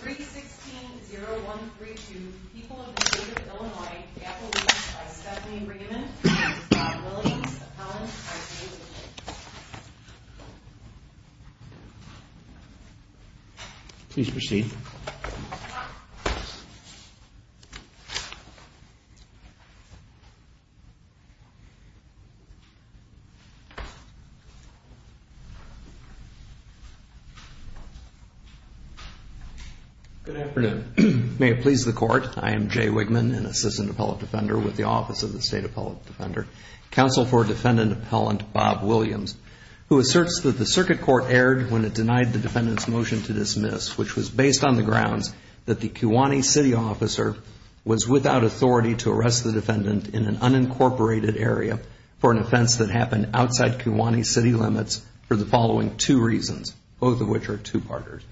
3-16-0132 People of the State of Illinois, Appalachians by Stephanie Raymond and Williams, Appalachians by David Please proceed Good afternoon. May it please the Court, I am Jay Wigman, an Assistant Appellate Defender with the Office of the State Appellate Defender, Counsel for Defendant Appellant Bob Williams, who asserts that the circuit court erred when it denied the defendant's motion to dismiss, which was based on the grounds that the Kewaunee City Officer was without authority to arrest the defendant in an unincorporated area for an offense that happened outside Kewaunee City limits for the following two reasons, both of which are two partners.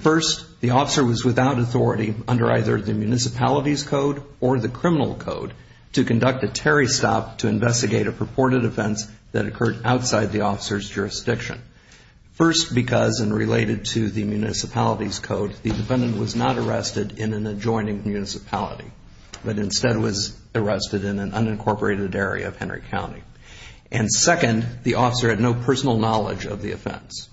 First, the officer was without authority under either the Municipalities Code or the Criminal Code to conduct a Terry stop to investigate a purported offense that occurred outside the officer's jurisdiction. First, because, and related to the Municipalities Code, the defendant was not arrested in an adjoining municipality, but instead was arrested in an unincorporated area of Henry County. And second, the officer had no personal knowledge of the offense.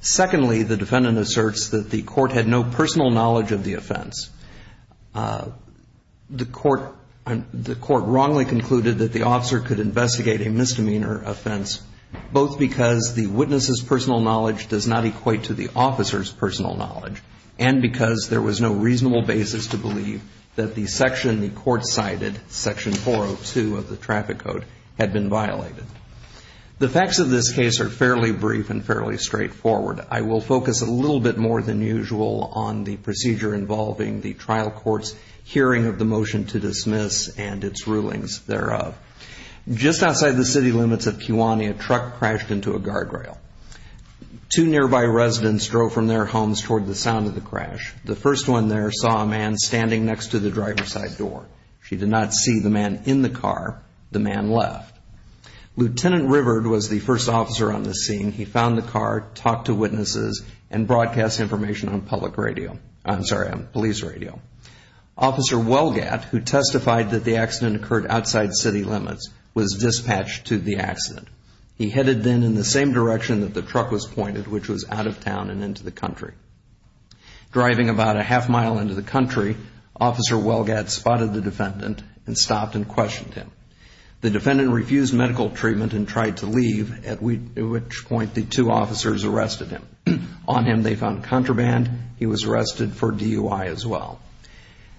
Secondly, the defendant asserts that the court had no personal knowledge of the offense. The court wrongly concluded that the officer could investigate a misdemeanor offense, both because the witness's personal knowledge does not equate to the officer's personal knowledge, and because there was no reasonable basis to believe that the section the court cited, Section 402 of the Traffic Code, had been violated. The facts of this case are fairly brief and fairly straightforward. I will focus a little bit more than usual on the procedure involving the trial court's hearing of the motion to dismiss and its rulings thereof. Just outside the city limits of Kewaunee, a truck crashed into a guardrail. Two nearby residents drove from their homes toward the sound of the crash. The first one there saw a man standing next to the driver's side door. She did not see the man in the car. The man left. Lieutenant Riverd was the first officer on the scene. He found the car, talked to witnesses, and broadcast information on police radio. Officer Welgatt, who testified that the accident occurred outside city limits, was dispatched to the accident. He headed then in the same direction that the truck was pointed, which was out of town and into the country. Driving about a half mile into the country, Officer Welgatt spotted the defendant and stopped and questioned him. The defendant refused medical treatment and tried to leave, at which point the two officers arrested him. On him they found contraband. He was arrested for DUI as well.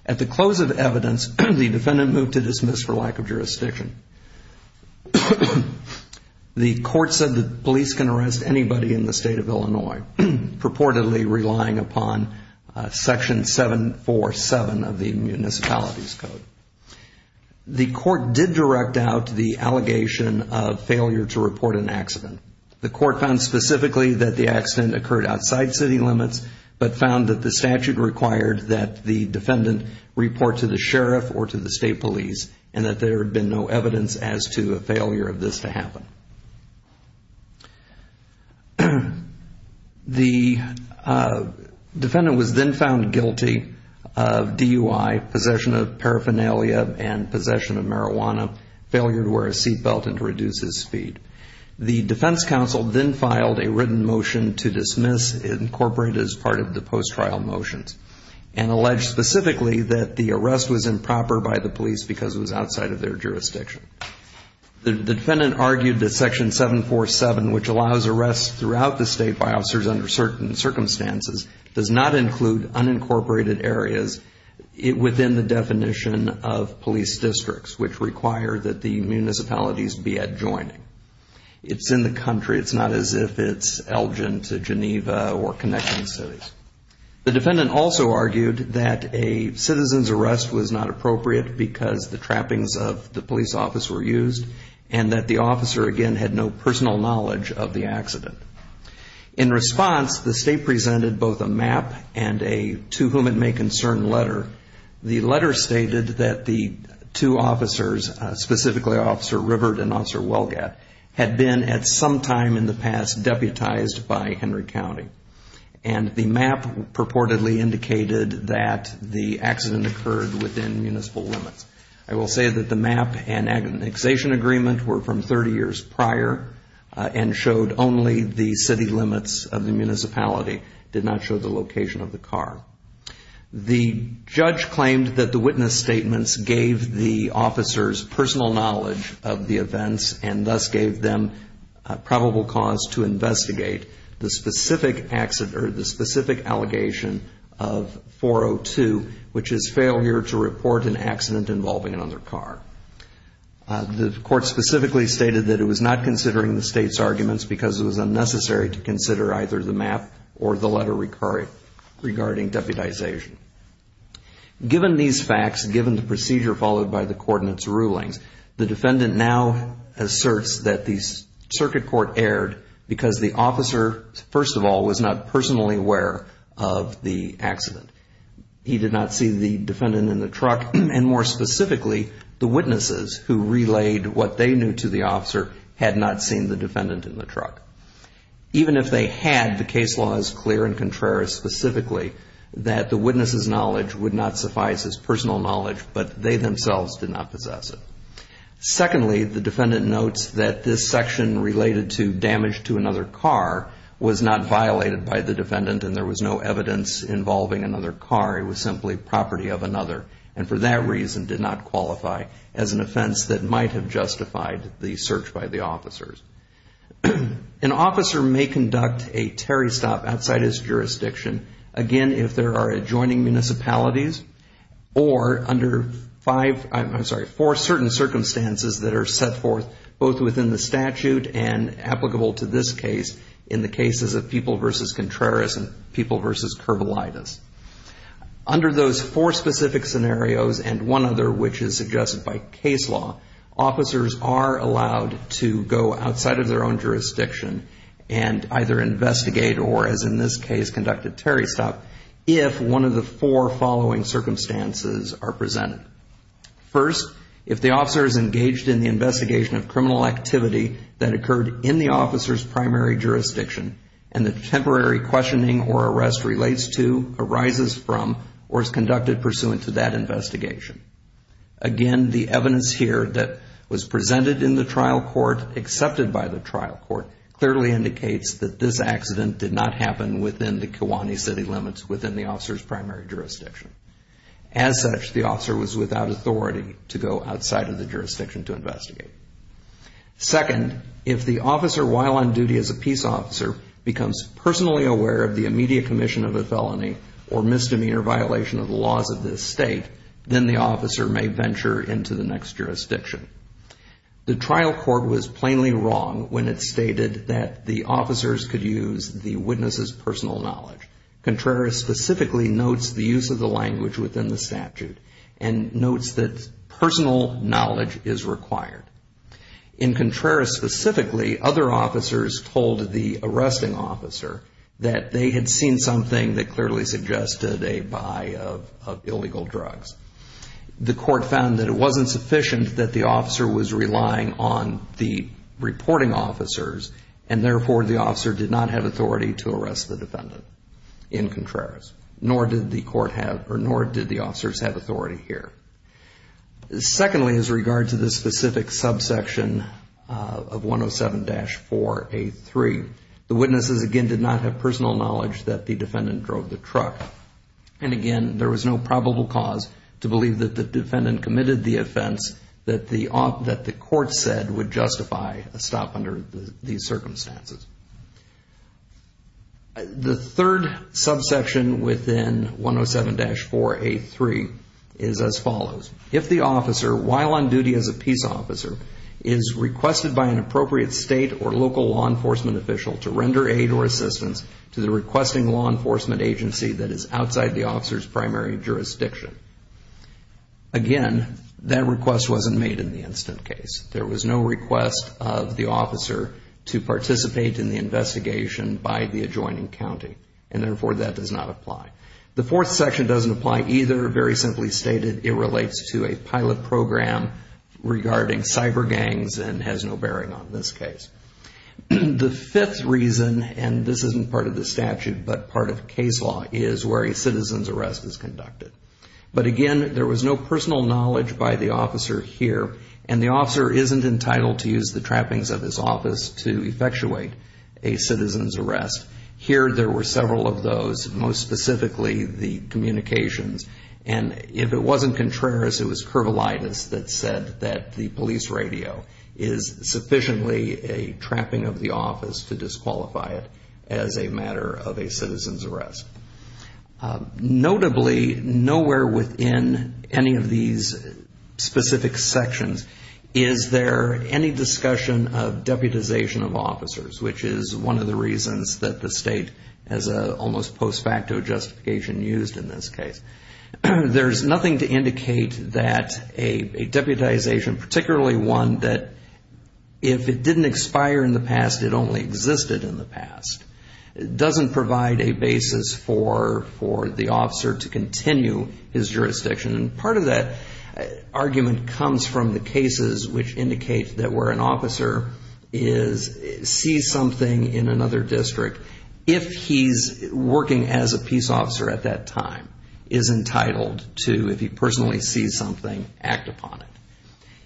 At the close of evidence, the defendant moved to dismiss for lack of jurisdiction. The court said that police can arrest anybody in the state of Illinois, purportedly relying upon Section 747 of the Municipalities Code. The court did direct out the allegation of failure to report an accident. The court found specifically that the accident occurred outside city limits, but found that the statute required that the defendant report to the sheriff or to the state police, and that there had been no evidence as to a failure of this to happen. The defendant was then found guilty of DUI, possession of paraphernalia, and possession of marijuana, failure to wear a seat belt, and to reduce his speed. The defense counsel then filed a written motion to dismiss, incorporated as part of the post-trial motions, and alleged specifically that the arrest was improper by the police because it was outside of their jurisdiction. The defendant argued that Section 747, which allows arrests throughout the state by officers under certain circumstances, does not include unincorporated areas within the definition of police districts, which require that the municipalities be adjoining. It's in the country. It's not as if it's Elgin to Geneva or connecting cities. The defendant also argued that a citizen's arrest was not appropriate because the trappings of the police officer were used, and that the officer, again, had no personal knowledge of the accident. In response, the state presented both a map and a to whom it may concern letter. The letter stated that the two officers, specifically Officer Riverd and Officer Welgat, had been at some time in the past deputized by Henry County. And the map purportedly indicated that the accident occurred within municipal limits. I will say that the map and agonization agreement were from 30 years prior and showed only the city limits of the municipality, did not show the location of the car. The judge claimed that the witness statements gave the officers personal knowledge of the events and thus gave them probable cause to investigate the specific allegation of 402, which is failure to report an accident involving another car. The court specifically stated that it was not considering the state's arguments because it was unnecessary to consider either the map or the letter regarding deputization. Given these facts, given the procedure followed by the court in its rulings, the defendant now asserts that the circuit court erred because the officer, first of all, was not personally aware of the accident. He did not see the defendant in the truck, and more specifically, the witnesses who relayed what they knew to the officer had not seen the defendant in the truck. Even if they had, the case law is clear and contrary specifically that the witness's knowledge would not suffice as personal knowledge, but they themselves did not possess it. Secondly, the defendant notes that this section related to damage to another car was not violated by the defendant and there was no evidence involving another car. It was simply property of another and for that reason did not qualify as an offense that might have justified the search by the officers. An officer may conduct a Terry stop outside his jurisdiction, again, if there are adjoining municipalities or under five, I'm sorry, four certain circumstances that are set forth both within the statute and applicable to this case in the cases of People v. Contreras and People v. Curbalitis. Under those four specific scenarios and one other which is suggested by case law, officers are allowed to go outside of their own jurisdiction and either investigate or as in this case conduct a Terry stop if one of the four following circumstances are presented. First, if the officer is engaged in the investigation of criminal activity that occurred in the officer's primary jurisdiction and the temporary questioning or arrest relates to, arises from, or is conducted pursuant to that investigation. Again, the evidence here that was presented in the trial court, accepted by the trial court, clearly indicates that this accident did not happen within the Kiwanee city limits within the officer's primary jurisdiction. As such, the officer was without authority to go outside of the jurisdiction to investigate. Second, if the officer while on duty as a peace officer becomes personally aware of the immediate commission of a felony or misdemeanor violation of the laws of this state, then the officer may venture into the next jurisdiction. The trial court was plainly wrong when it stated that the officers could use the witness's personal knowledge. Contreras specifically notes the use of the language within the statute and notes that personal knowledge is required. In Contreras specifically, other officers told the arresting officer that they had seen something that clearly suggested a buy of illegal drugs. The court found that it wasn't sufficient that the officer was relying on the reporting officers and therefore the officer did not have authority to arrest the defendant in Contreras. Nor did the officers have authority here. Secondly, as regards to this specific subsection of 107-4A3, the witnesses again did not have personal knowledge that the defendant drove the truck. And again, there was no probable cause to believe that the defendant committed the offense that the court said would justify a stop under these circumstances. The third subsection within 107-4A3 is as follows. If the officer, while on duty as a peace officer, is requested by an appropriate state or local law enforcement official to render aid or assistance to the requesting law enforcement agency that is outside the officer's primary jurisdiction. Again, that request wasn't made in the instant case. There was no request of the officer to participate in the investigation by the adjoining county. And therefore, that does not apply. The fourth section doesn't apply either. Very simply stated, it relates to a pilot program regarding cyber gangs and has no bearing on this case. The fifth reason, and this isn't part of the statute, but part of case law is where a citizen's arrest is conducted. But again, there was no personal knowledge by the officer here. And the officer isn't entitled to use the trappings of his office to effectuate a citizen's arrest. Here, there were several of those, most specifically the communications. And if it wasn't Contreras, it was Curvelitis that said that the police radio is sufficiently a trapping of the office to disqualify it as a matter of a citizen's arrest. Notably, nowhere within any of these specific sections is there any discussion of deputization of officers, which is one of the reasons that the state has an almost post facto justification used in this case. There's nothing to indicate that a deputization, particularly one that if it didn't expire in the past, it only existed in the past, doesn't provide a basis for the officer to continue his jurisdiction. And part of that argument comes from the cases which indicate that where an officer sees something in another district, if he's working as a peace officer at that time, is entitled to, if he personally sees something, act upon it.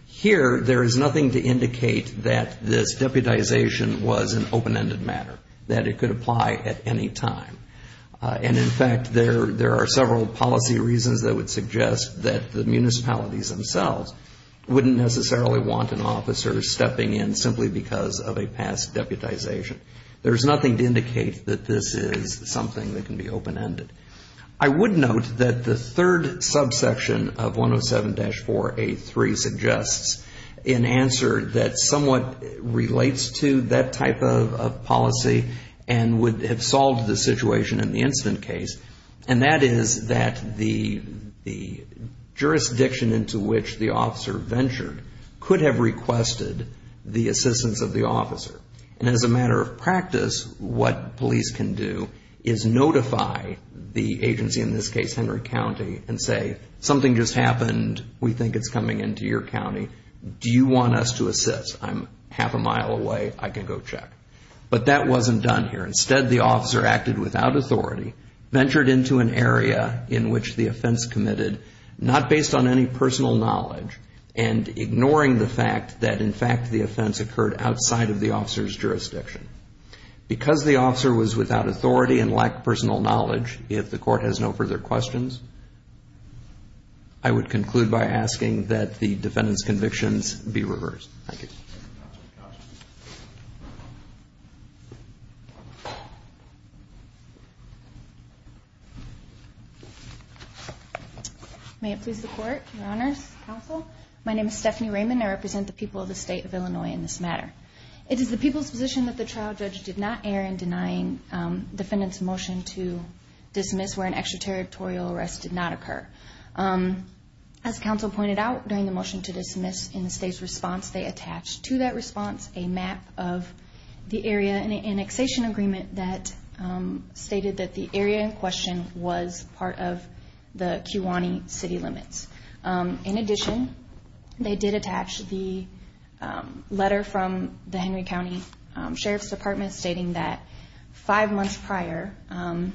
Here, there is nothing to indicate that this deputization was an open-ended matter, that it could apply at any time. And in fact, there are several policy reasons that would suggest that the municipalities themselves wouldn't necessarily want an officer stepping in simply because of a past deputization. There's nothing to indicate that this is something that can be open-ended. I would note that the third subsection of 107-483 suggests an answer that somewhat relates to that type of policy and would have solved the situation in the incident case, and that is that the jurisdiction into which the officer ventured could have requested the assistance of the officer. And as a matter of practice, what police can do is notify the agency, in this case Henry County, and say, something just happened. We think it's coming into your county. Do you want us to assist? I'm half a mile away. I can go check. But that wasn't done here. Instead, the officer acted without authority, ventured into an area in which the offense committed, not based on any personal knowledge, and ignoring the fact that, in fact, the offense occurred outside of the officer's jurisdiction. Because the officer was without authority and lacked personal knowledge, if the Court has no further questions, I would conclude by asking that the defendant's convictions be reversed. Thank you. Thank you, Counsel. May it please the Court, Your Honors, Counsel. My name is Stephanie Raymond. I represent the people of the State of Illinois in this matter. It is the people's position that the trial judge did not err in denying the defendant's motion to dismiss where an extraterritorial arrest did not occur. As Counsel pointed out during the motion to dismiss in the State's response, they attached to that response a map of the area and an annexation agreement that stated that the area in question was part of the Kiwanee city limits. In addition, they did attach the letter from the Henry County Sheriff's Department stating that five months prior, Officer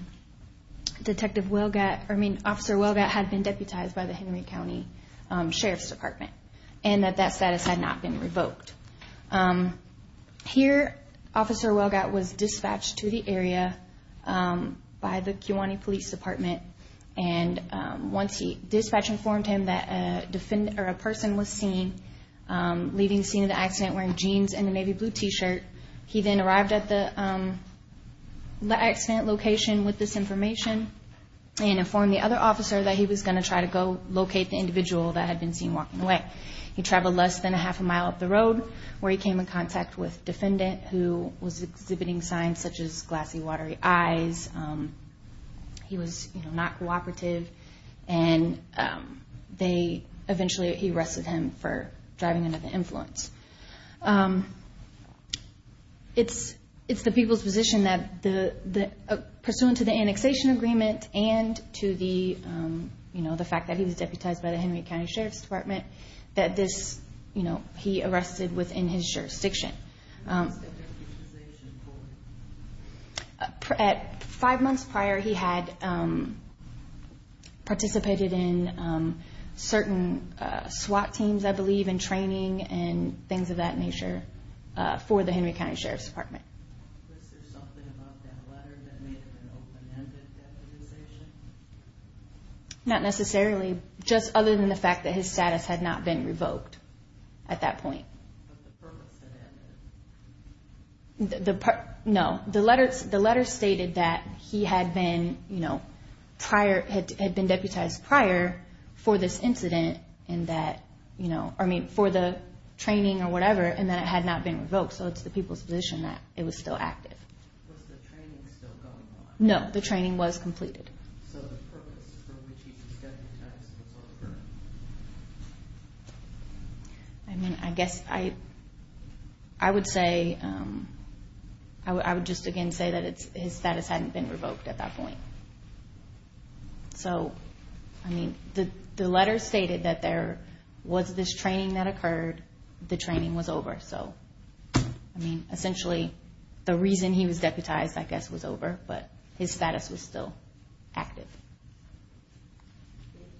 Welgott had been deputized by the Henry County Sheriff's Department and that that status had not been revoked. Here, Officer Welgott was dispatched to the area by the Kiwanee Police Department. Once the dispatch informed him that a person was seen leaving the scene of the accident wearing jeans and a navy blue T-shirt, he then arrived at the accident location with this information and informed the other officer that he was going to try to go locate the individual that had been seen walking away. He traveled less than a half a mile up the road where he came in contact with a defendant who was exhibiting signs such as glassy, watery eyes. He was not cooperative and eventually he arrested him for driving under the influence. It's the people's position that pursuant to the annexation agreement and to the fact that he was deputized by the Henry County Sheriff's Department that he arrested within his jurisdiction. What was the deputization for? At five months prior, he had participated in certain SWAT teams, I believe, and training and things of that nature for the Henry County Sheriff's Department. Was there something about that letter that made it an open-ended deputization? Not necessarily, just other than the fact that his status had not been revoked at that point. But the purpose had ended? No, the letter stated that he had been deputized prior for this incident and that, I mean, for the training or whatever, and that it had not been revoked. So it's the people's position that it was still active. Was the training still going on? No, the training was completed. So the purpose for which he was deputized was over? I mean, I guess I would say, I would just again say that his status hadn't been revoked at that point. So, I mean, the letter stated that there was this training that occurred, the training was over. So, I mean, essentially the reason he was deputized, I guess, was over, but his status was still active.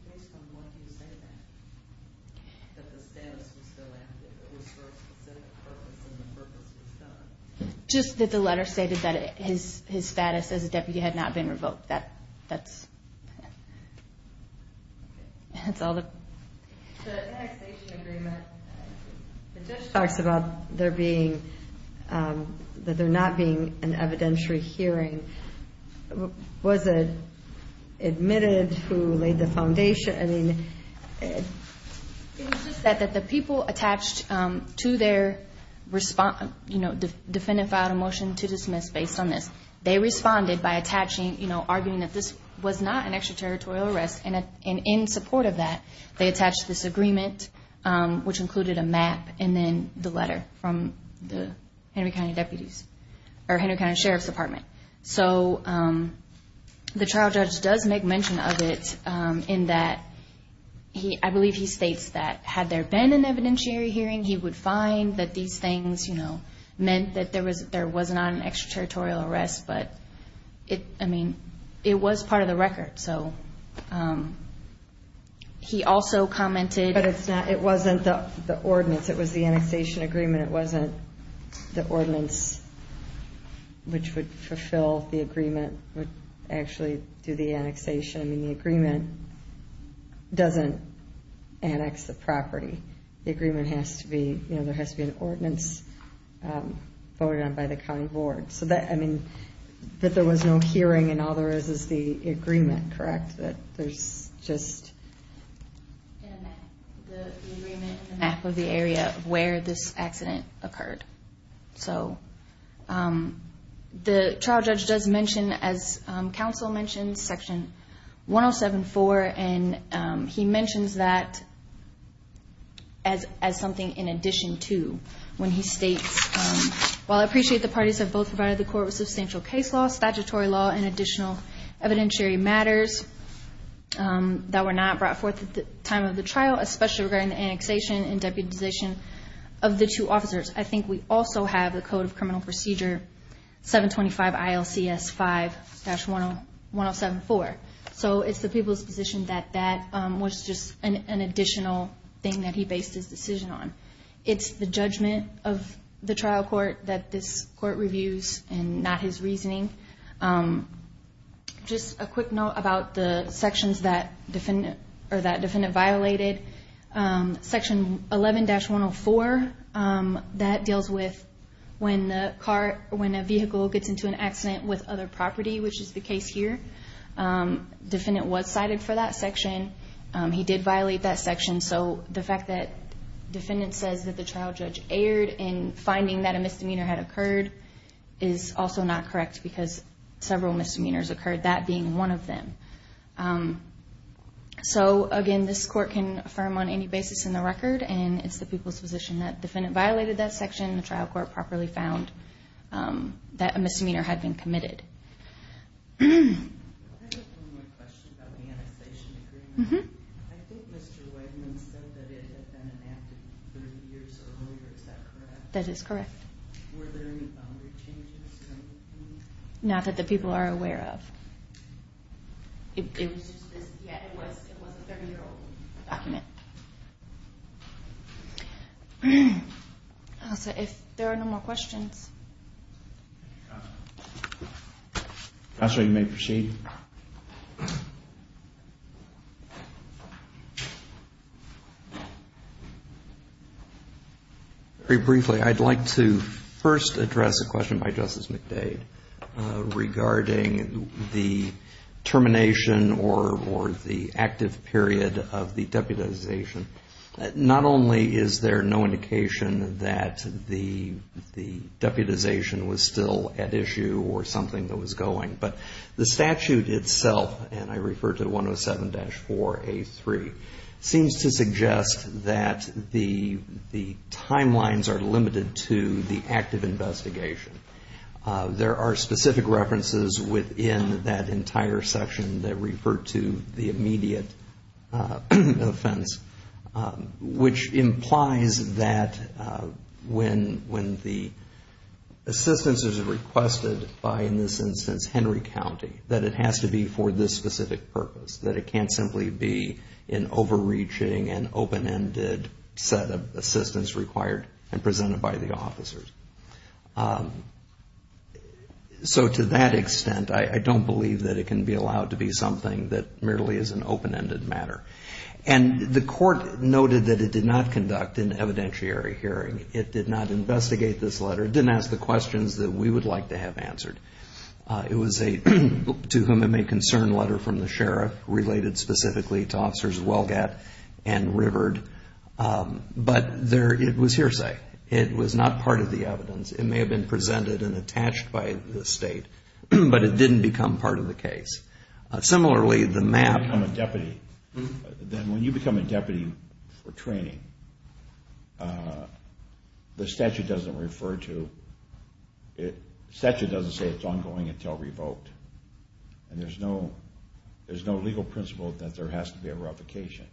Based on what you say then, that the status was still active, it was for a specific purpose and the purpose was done? Just that the letter stated that his status as a deputy had not been revoked. That's all. The annexation agreement, it just talks about there being, that there not being an evidentiary hearing. Was it admitted who laid the foundation? It was just that the people attached to their respondent, you know, defendant filed a motion to dismiss based on this. They responded by attaching, you know, arguing that this was not an extraterritorial arrest, and in support of that, they attached this agreement, which included a map, and then the letter from the Henry County deputies, or Henry County Sheriff's Department. So, the trial judge does make mention of it in that he, I believe he states that had there been an evidentiary hearing, he would find that these things, you know, meant that there was not an extraterritorial arrest, but it, I mean, it was part of the record. So, he also commented. But it's not, it wasn't the ordinance. It was the annexation agreement. It wasn't the ordinance, which would fulfill the agreement, would actually do the annexation. I mean, the agreement doesn't annex the property. The agreement has to be, you know, there has to be an ordinance voted on by the county board. So, that, I mean, that there was no hearing, and all there is is the agreement, correct? But there's just the agreement, the map of the area of where this accident occurred. So, the trial judge does mention, as counsel mentioned, Section 107.4, and he mentions that as something in addition to when he states, Well, I appreciate the parties have both provided the court with substantial case law, statutory law, and additional evidentiary matters that were not brought forth at the time of the trial, especially regarding the annexation and deputization of the two officers. I think we also have the Code of Criminal Procedure, 725 ILCS 5-107.4. So, it's the people's position that that was just an additional thing that he based his decision on. It's the judgment of the trial court that this court reviews, and not his reasoning. Just a quick note about the sections that defendant, or that defendant violated. Section 11-104, that deals with when the car, when a vehicle gets into an accident with other property, which is the case here. Defendant was cited for that section. He did violate that section. So, the fact that defendant says that the trial judge erred in finding that a misdemeanor had occurred is also not correct, because several misdemeanors occurred, that being one of them. So, again, this court can affirm on any basis in the record, and it's the people's position that defendant violated that section, and the trial court properly found that a misdemeanor had been committed. I have one more question about the annexation agreement. I think Mr. Wegman said that it had been enacted 30 years earlier, is that correct? That is correct. Were there any boundary changes? Not that the people are aware of. It was just this, yeah, it was a 30-year-old document. So, if there are no more questions. Counsel, you may proceed. Very briefly, I'd like to first address a question by Justice McDade regarding the termination or the active period of the deputization. Not only is there no indication that the deputization was still at issue or something that was going, but the statute itself, and I refer to 107-4A3, seems to suggest that the timelines are limited to the active investigation. There are specific references within that entire section that refer to the immediate offense, which implies that when the assistance is requested by, in this instance, Henry County, that it has to be for this specific purpose, that it can't simply be an overreaching and open-ended set of assistance required and presented by the officers. So, to that extent, I don't believe that it can be allowed to be something that merely is an open-ended matter. And the court noted that it did not conduct an evidentiary hearing. It did not investigate this letter. It didn't ask the questions that we would like to have answered. It was a, to whom it may concern, letter from the sheriff, related specifically to Officers Welgatt and Riverd. But it was hearsay. It was not part of the evidence. It may have been presented and attached by the state, but it didn't become part of the case. Similarly, the map. When you become a deputy for training, the statute doesn't refer to, the statute doesn't say it's ongoing until revoked. And there's no legal principle that there has to be a revocation.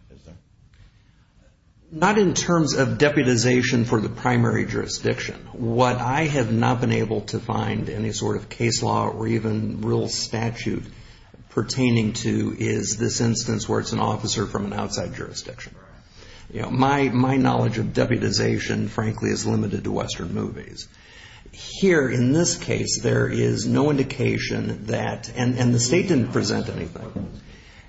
Not in terms of deputization for the primary jurisdiction. What I have not been able to find any sort of case law or even real statute pertaining to is this instance where it's an officer from an outside jurisdiction. My knowledge of deputization, frankly, is limited to Western movies. Here, in this case, there is no indication that, and the state didn't present anything.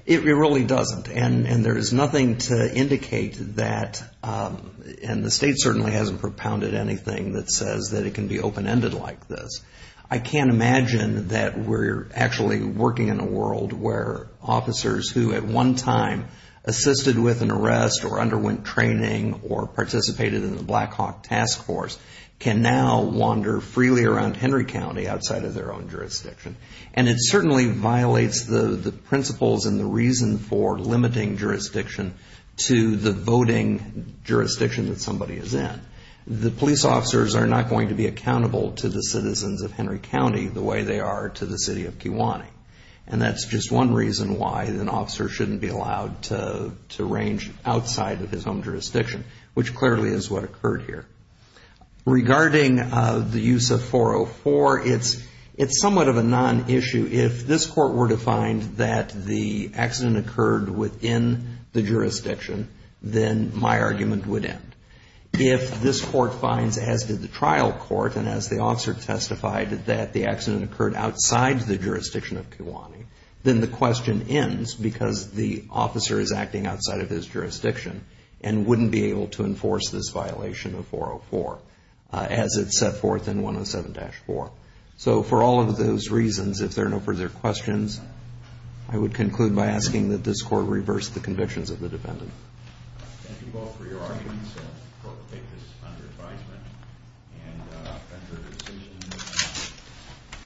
It really doesn't. And there is nothing to indicate that, and the state certainly hasn't propounded anything that says that it can be open-ended like this. I can't imagine that we're actually working in a world where officers who at one time assisted with an arrest or underwent training or participated in the Black Hawk Task Force can now wander freely around Henry County outside of their own jurisdiction. And it certainly violates the principles and the reason for limiting jurisdiction to the voting jurisdiction that somebody is in. The police officers are not going to be accountable to the citizens of Henry County the way they are to the city of Kewanee. And that's just one reason why an officer shouldn't be allowed to range outside of his own jurisdiction, which clearly is what occurred here. Regarding the use of 404, it's somewhat of a non-issue. If this court were to find that the accident occurred within the jurisdiction, then my argument would end. If this court finds, as did the trial court and as the officer testified, that the accident occurred outside the jurisdiction of Kewanee, then the question ends because the officer is acting outside of his jurisdiction and wouldn't be able to enforce this violation of 404 as it's set forth in 107-4. So for all of those reasons, if there are no further questions, I would conclude by asking that this court reverse the convictions of the defendant. Thank you both for your arguments. The court will take this under advisement and under decision.